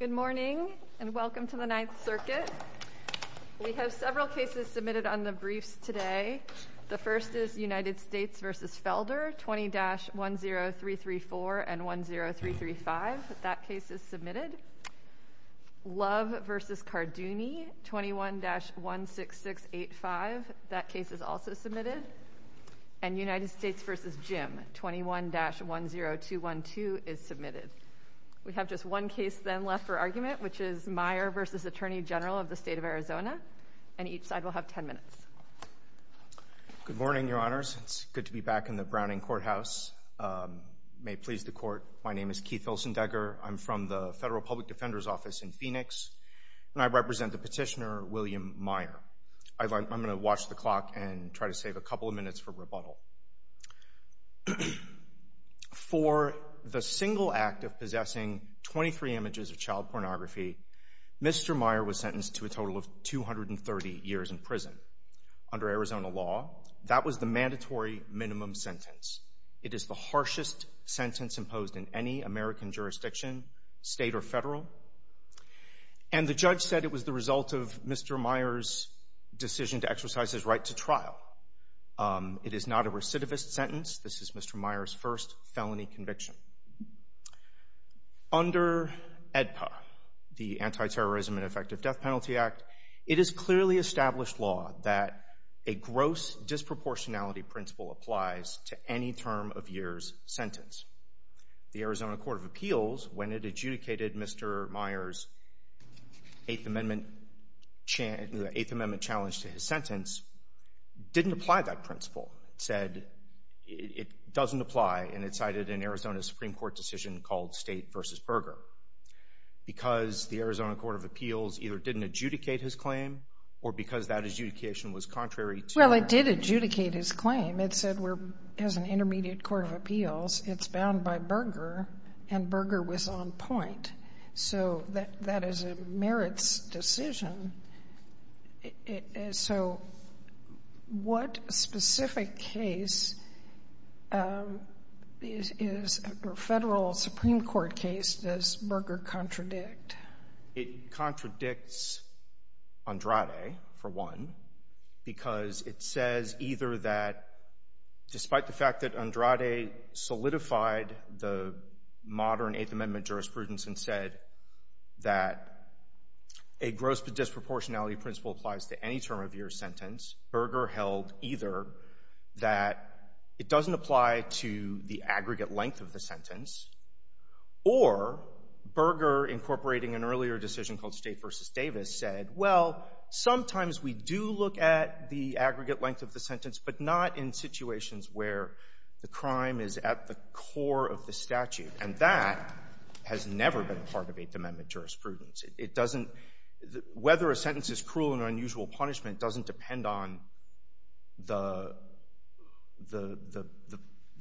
Good morning and welcome to the Ninth Circuit. We have several cases submitted on the briefs today. The first is United States v. Felder, 20-10334 and 10335. That case is submitted. Love v. Cardoni, 21-16685. That case is also submitted. We have just one case then left for argument, which is Meyer v. Attorney General of the State of Arizona, and each side will have 10 minutes. Good morning, Your Honors. It's good to be back in the Browning Courthouse. May it please the Court, my name is Keith Vilsendecker. I'm from the Federal Public Defender's Office in Phoenix, and I represent the petitioner William Meyer. I'm going to watch the clock and try to save a couple of minutes for rebuttal. For the single act of possessing 23 images of child pornography, Mr. Meyer was sentenced to a total of 230 years in prison under Arizona law. That was the mandatory minimum sentence. It is the harshest sentence imposed in any American jurisdiction, state or federal, and the judge said it was the result of Mr. Meyer's decision to exercise his right to trial. It is not a recidivist sentence. This is Mr. Meyer's first felony conviction. Under AEDPA, the Anti-Terrorism and Effective Death Penalty Act, it is clearly established law that a gross disproportionality principle applies to any term of year's sentence. The Arizona Court of Appeals, when it adjudicated Mr. Meyer's Eighth Amendment challenge to his sentence, didn't apply that principle. It said it doesn't apply, and it cited an Arizona Supreme Court decision called State v. Berger. Because the Arizona Court of Appeals either didn't adjudicate his claim, or because that adjudication was contrary to... Well, it did adjudicate his claim. It said, as an intermediate court of appeals, it's on point. So, that is a merits decision. So, what specific case is a federal Supreme Court case does Berger contradict? It contradicts Andrade, for one, because it says either that, despite the fact that Andrade solidified the modern Eighth Amendment jurisprudence and said that a gross disproportionality principle applies to any term of year's sentence, Berger held either that it doesn't apply to the aggregate length of the sentence, or Berger, incorporating an earlier decision called State v. Davis, said, well, sometimes we do look at the aggregate length of the sentence, but not in situations where the crime is at the core of the statute. And that has never been part of Eighth Amendment jurisprudence. It doesn't — whether a sentence is cruel and unusual punishment doesn't depend on the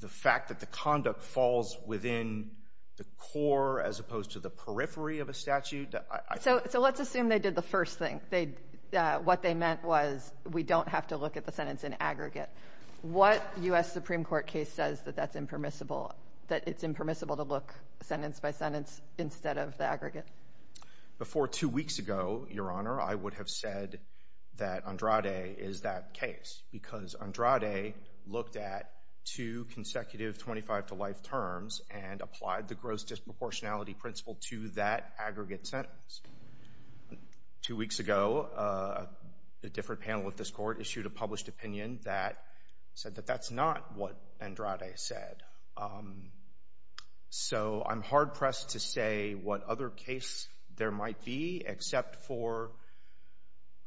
fact that the conduct falls within the core as opposed to the periphery of a statute. So let's assume they did the first thing. What they meant was we don't have to look at the sentence in aggregate. What U.S. Supreme Court case says that that's impermissible, that it's impermissible to look sentence by sentence instead of the aggregate? Before two weeks ago, Your Honor, I would have said that Andrade is that case because Andrade looked at two consecutive 25-to-life terms and applied the gross disproportionality principle to that aggregate sentence. Two weeks ago, a different panel of this Court issued a published opinion that said that that's not what Andrade said. So I'm hard pressed to say what other case there might be except for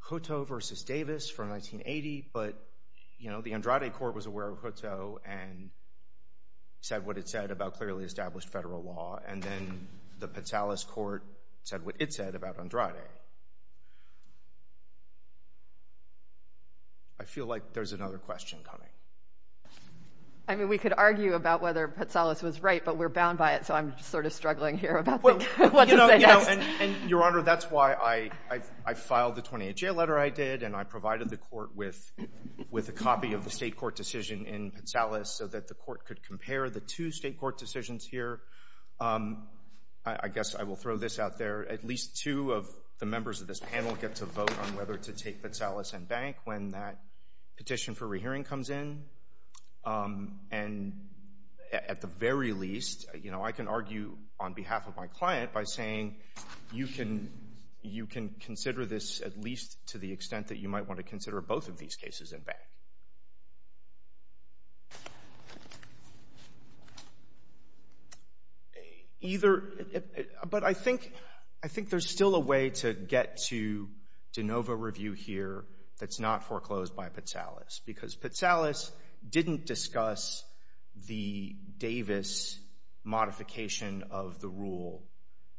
Hutto v. Davis from 1980, but, you know, the Andrade Court was aware of Hutto and said what it said about clearly established federal law, and then the Patsalas Court said what it said about Andrade. I feel like there's another question coming. I mean, we could argue about whether Patsalas was right, but we're bound by it, so I'm sort of struggling here about what to say next. Well, you know, and, Your Honor, that's why I filed the 28-J letter I did, and I provided the Court with a copy of the state court decision in Patsalas so that the Court could compare the two state court decisions here. I guess I will throw this out there. At least two of the members of this panel get to vote on whether to take Patsalas and Bank when that petition for rehearing comes in, and at the very least, you know, I can argue on behalf of my client by saying you can consider this at least to the extent that you might want to consider both of these cases in Bank. But I think there's still a way to get to de novo review here that's not foreclosed by Patsalas, because Patsalas didn't discuss the Davis modification of the rule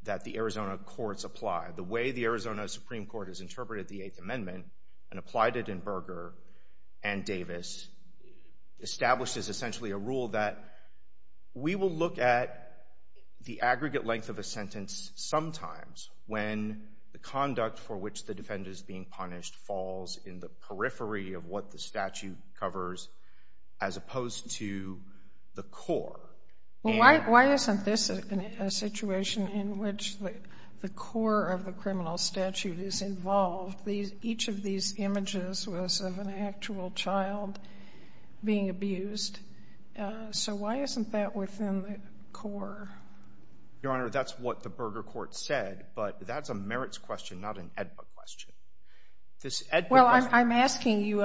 that the Arizona courts apply. The way the Arizona Supreme Court has interpreted the Eighth Amendment and applied it in Berger and Davis establishes essentially a rule that we will look at the aggregate length of a sentence sometimes when the conduct for which the defendant is being punished falls in the periphery of what the statute covers as opposed to the core. Well, why isn't this a situation in which the core of the criminal statute is involved, each of these images was of an actual child being abused? So why isn't that within the core? Your Honor, that's what the Berger court said, but that's a merits question, not an AEDPA question. This AEDPA question — Well, I'm asking you,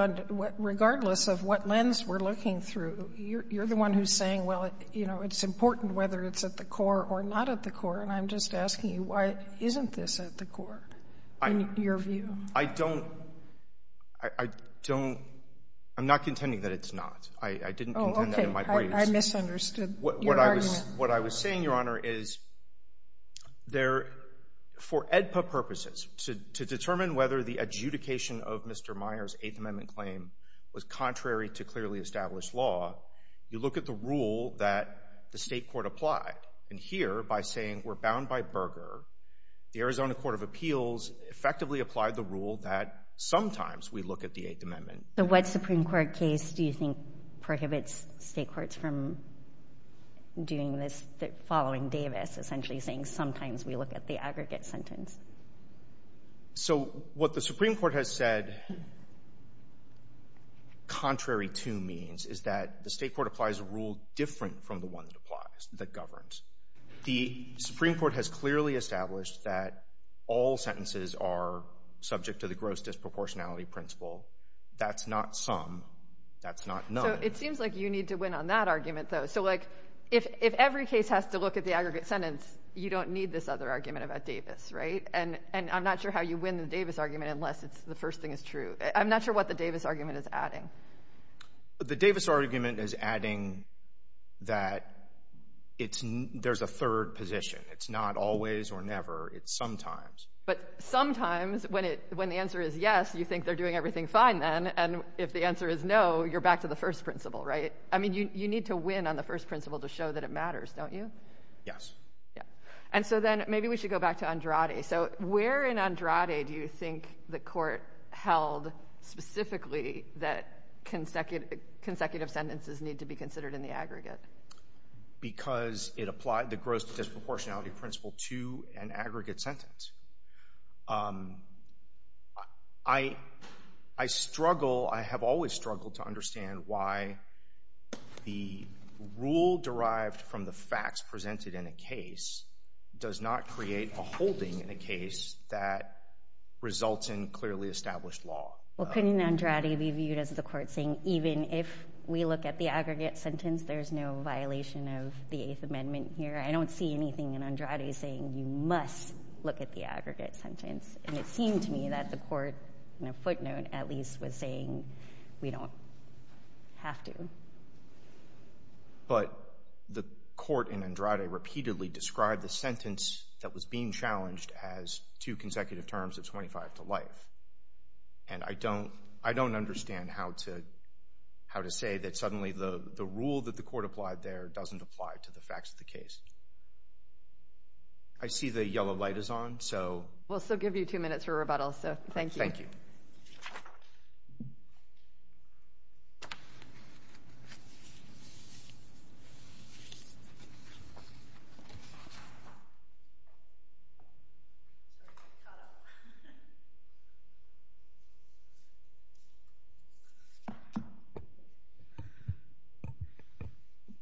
regardless of what lens we're looking through, you're the one who's saying, well, you know, it's important whether it's at the core or not at the core. And I'm just asking you, why isn't this at the core in your view? I don't — I don't — I'm not contending that it's not. I didn't contend that in my Oh, okay. I misunderstood your argument. What I was saying, Your Honor, is there — for AEDPA purposes, to determine whether the adjudication of Mr. Meyer's Eighth Amendment claim was contrary to clearly established law, you look at the rule that the State court applied. And here, by saying we're bound by Berger, the Arizona Court of Appeals effectively applied the rule that sometimes we look at the Eighth Amendment. So what Supreme Court case do you think prohibits State courts from doing this — following Davis, essentially saying sometimes we look at the aggregate sentence? So what the Supreme Court has said contrary to means is that the State court applies a rule that applies — that governs. The Supreme Court has clearly established that all sentences are subject to the gross disproportionality principle. That's not some. That's not none. So it seems like you need to win on that argument, though. So like, if every case has to look at the aggregate sentence, you don't need this other argument about Davis, right? And I'm not sure how you win the Davis argument unless it's — the first thing is true. I'm not sure what the Davis argument is adding. The Davis argument is adding that it's — there's a third position. It's not always or never. It's sometimes. But sometimes, when it — when the answer is yes, you think they're doing everything fine then. And if the answer is no, you're back to the first principle, right? I mean, you need to win on the first principle to show that it matters, don't you? Yes. Yeah. And so then maybe we should go back to Andrade. So where in Andrade do you think the court held specifically that consecutive sentences need to be considered in the aggregate? Because it applied the gross disproportionality principle to an aggregate sentence. I struggle — I have always struggled to understand why the rule derived from the facts presented in a case does not create a holding in a case that results in clearly established law. Well, couldn't Andrade be viewed as the court saying, even if we look at the aggregate sentence, there's no violation of the Eighth Amendment here? I don't see anything in Andrade saying you must look at the aggregate sentence. And it seemed to me that the court, in a footnote at least, was saying we don't have to. But the court in Andrade repeatedly described the sentence that was being challenged as two consecutive terms of 25 to life. And I don't understand how to say that suddenly the rule that the court applied there doesn't apply to the facts of the case. I see the yellow light is on, so — We'll still give you two minutes for rebuttal, so thank you. Thank you.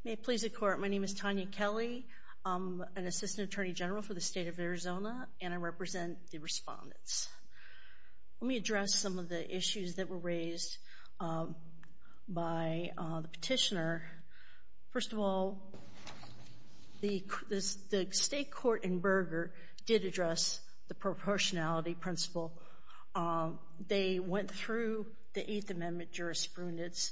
May it please the Court, my name is Tanya Kelly. I'm an assistant attorney general for the state of Arizona, and I represent the respondents. Let me address some of the issues that were raised by the petitioner. First of all, the state court in Berger did address the proportionality principle. They went through the Eighth Amendment jurisprudence,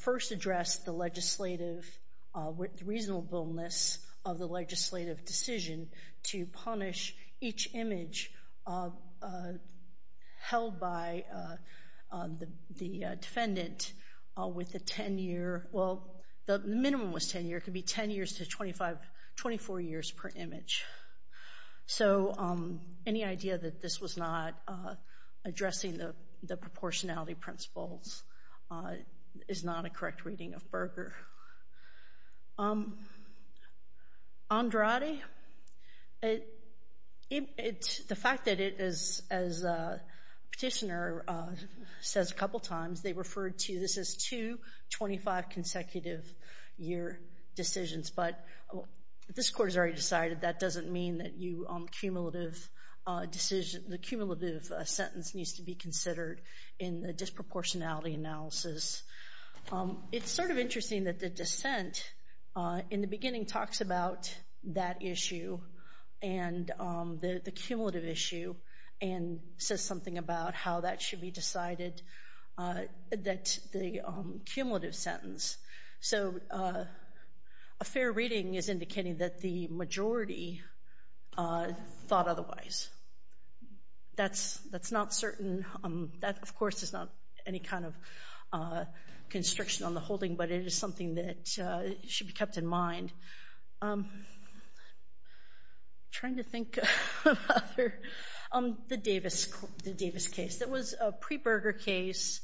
first addressed the legislative — the reasonableness of the legislative decision to punish each image held by the defendant with a 10-year — well, the minimum was 10 years, it could be 10 years to 24 years per image. So any idea that this was not addressing the proportionality principles is not a correct reading of Berger. Andrade, the fact that it is, as the petitioner says a couple times, they referred to this as two 25-consecutive-year decisions, but this court has already decided that doesn't mean that you — the cumulative sentence needs to be considered in the disproportionality analysis. It's sort of interesting that the dissent in the beginning talks about that issue and the cumulative issue and says something about how that should be decided, that the cumulative sentence. So a fair reading is indicating that the majority thought otherwise. That's not certain. That of course is not any kind of constriction on the holding, but it is something that should be kept in mind. Trying to think of other — the Davis case. It was a pre-Berger case.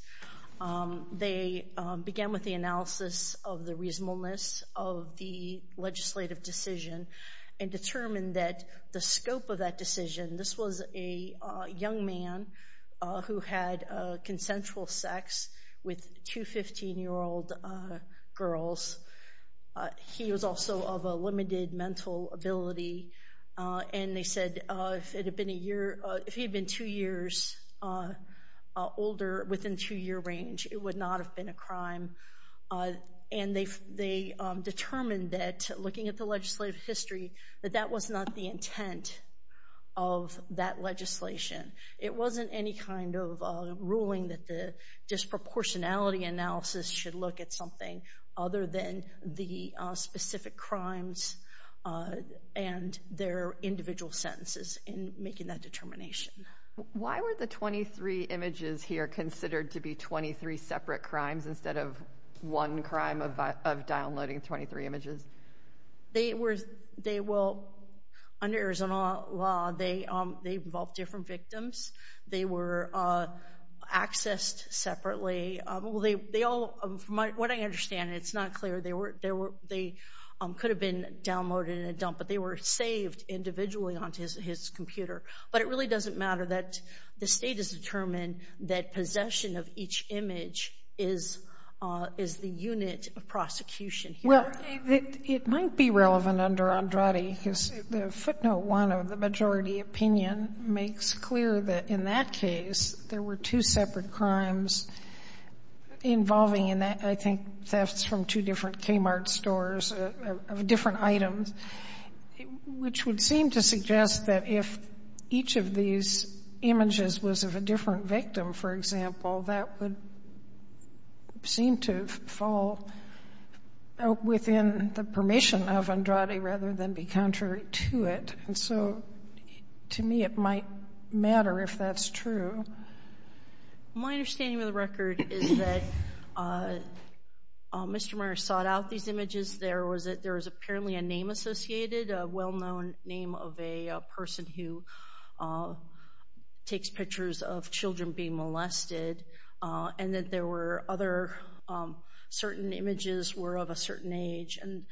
They began with the analysis of the reasonableness of the legislative decision and determined that the scope of that decision — this was a young man who had consensual sex with two 15-year-old girls. He was also of a limited mental ability, and they said if he had been two years older within two-year range, it would not have been a crime. And they determined that, looking at the legislative history, that that was not the intent of that legislation. It wasn't any kind of ruling that the disproportionality analysis should look at something other than the specific crimes and their individual sentences in making that determination. Why were the 23 images here considered to be 23 separate crimes instead of one crime of downloading 23 images? They were — under Arizona law, they involved different victims. They were accessed separately. They all — from what I understand, it's not clear. They could have been downloaded in a dump, but they were saved individually onto his computer. But it really doesn't matter that the State has determined that possession of each image is the unit of prosecution here. Well, it might be relevant under Andrade, because the footnote 1 of the majority opinion makes clear that in that case, there were two separate crimes involving, in that — I think, thefts from two different Kmart stores of different items, which would seem to suggest that if each of these images was of a different victim, for example, that would seem to fall within the permission of Andrade rather than be contrary to it. And so, to me, it might matter if that's true. My understanding of the record is that Mr. Meyer sought out these images. There was apparently a name associated, a well-known name of a person who takes pictures of children being molested, and that there were other — certain images were of a certain age. And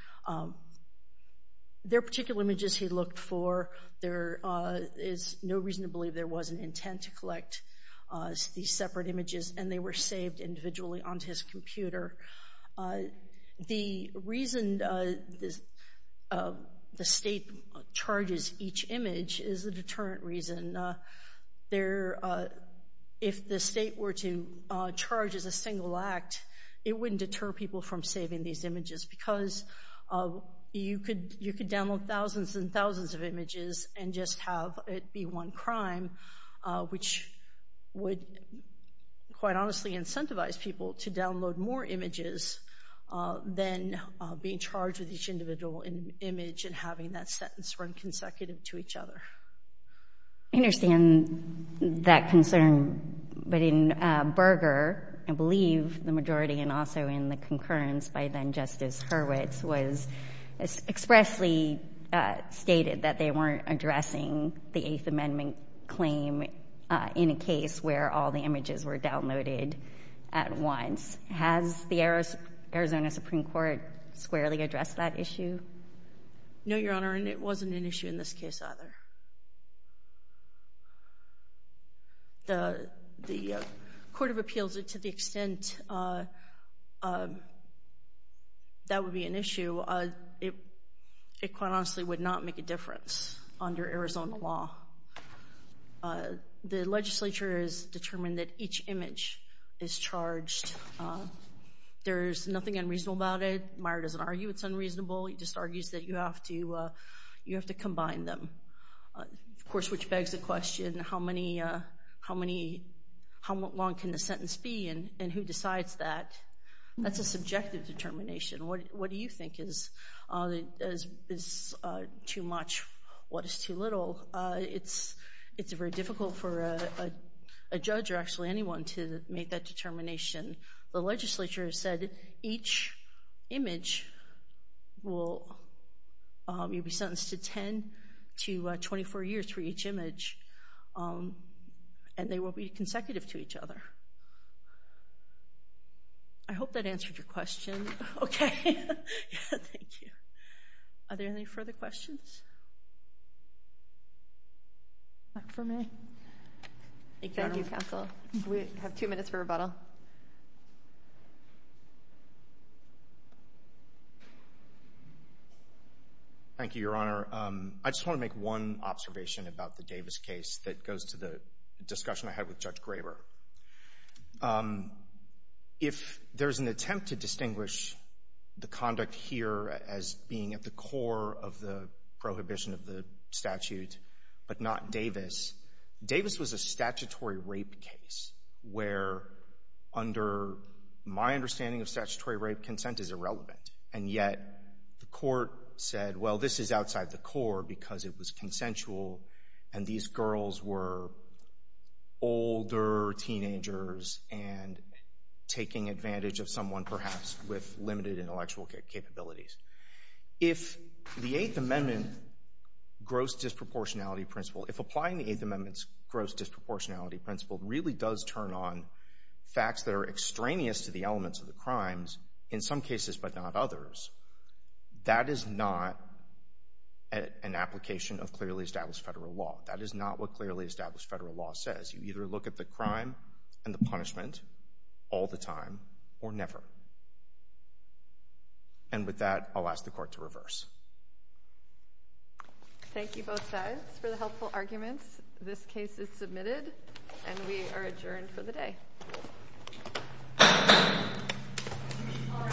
there are particular images he looked for. There is no reason to believe there was an intent to collect these separate images, and they were saved individually onto his computer. The reason the state charges each image is a deterrent reason. If the state were to charge as a single act, it wouldn't deter people from saving these images, because you could download thousands and thousands of images and just have it be one crime, which would, quite honestly, incentivize people to download more images than being charged with each individual image and having that sentence run consecutive to each other. I understand that concern, but in Berger, I believe the majority and also in the concurrence by then-Justice Hurwitz was expressly stated that they weren't addressing the Eighth Amendment claim in a case where all the images were downloaded at once. Has the Arizona Supreme Court squarely addressed that issue? No, Your Honor, and it wasn't an issue in this case either. The Court of Appeals, to the extent that would be an issue, it quite honestly would not make a difference under Arizona law. The legislature has determined that each image is charged. There's nothing unreasonable about it. Meyer doesn't argue it's unreasonable, he just argues that you have to combine them. Of course, which begs the question, how long can the sentence be and who decides that? That's a subjective determination. What do you think is too much, what is too little? It's very difficult for a judge or actually anyone to make that determination. The legislature has said each image will be sentenced to 10 to 24 years for each image, and they will be consecutive to each other. I hope that answered your question. Okay, thank you. Are there any further questions? Thank you, Your Honor. Thank you, Counsel. We have two minutes for rebuttal. Thank you, Your Honor. I just want to make one observation about the Davis case that goes to the discussion I had with Judge Graber. If there's an attempt to distinguish the conduct here as being at the core of the prohibition of the statute but not Davis, Davis was a statutory rape case where under my understanding of statutory rape, consent is irrelevant, and yet the court said, well, this is outside the core because it was consensual and these girls were older teenagers and taking advantage of someone perhaps with limited intellectual capabilities. If the Eighth Amendment gross disproportionality principle, if applying the Eighth Amendment's gross disproportionality principle really does turn on facts that are extraneous to the elements of the crimes, in some cases but not others, that is not an application of clearly established federal law. That is not what clearly established federal law says. You either look at the crime and the punishment all the time or never. And with that, I'll ask the court to reverse. Thank you both sides for the helpful arguments. This case is submitted and we are adjourned for the day.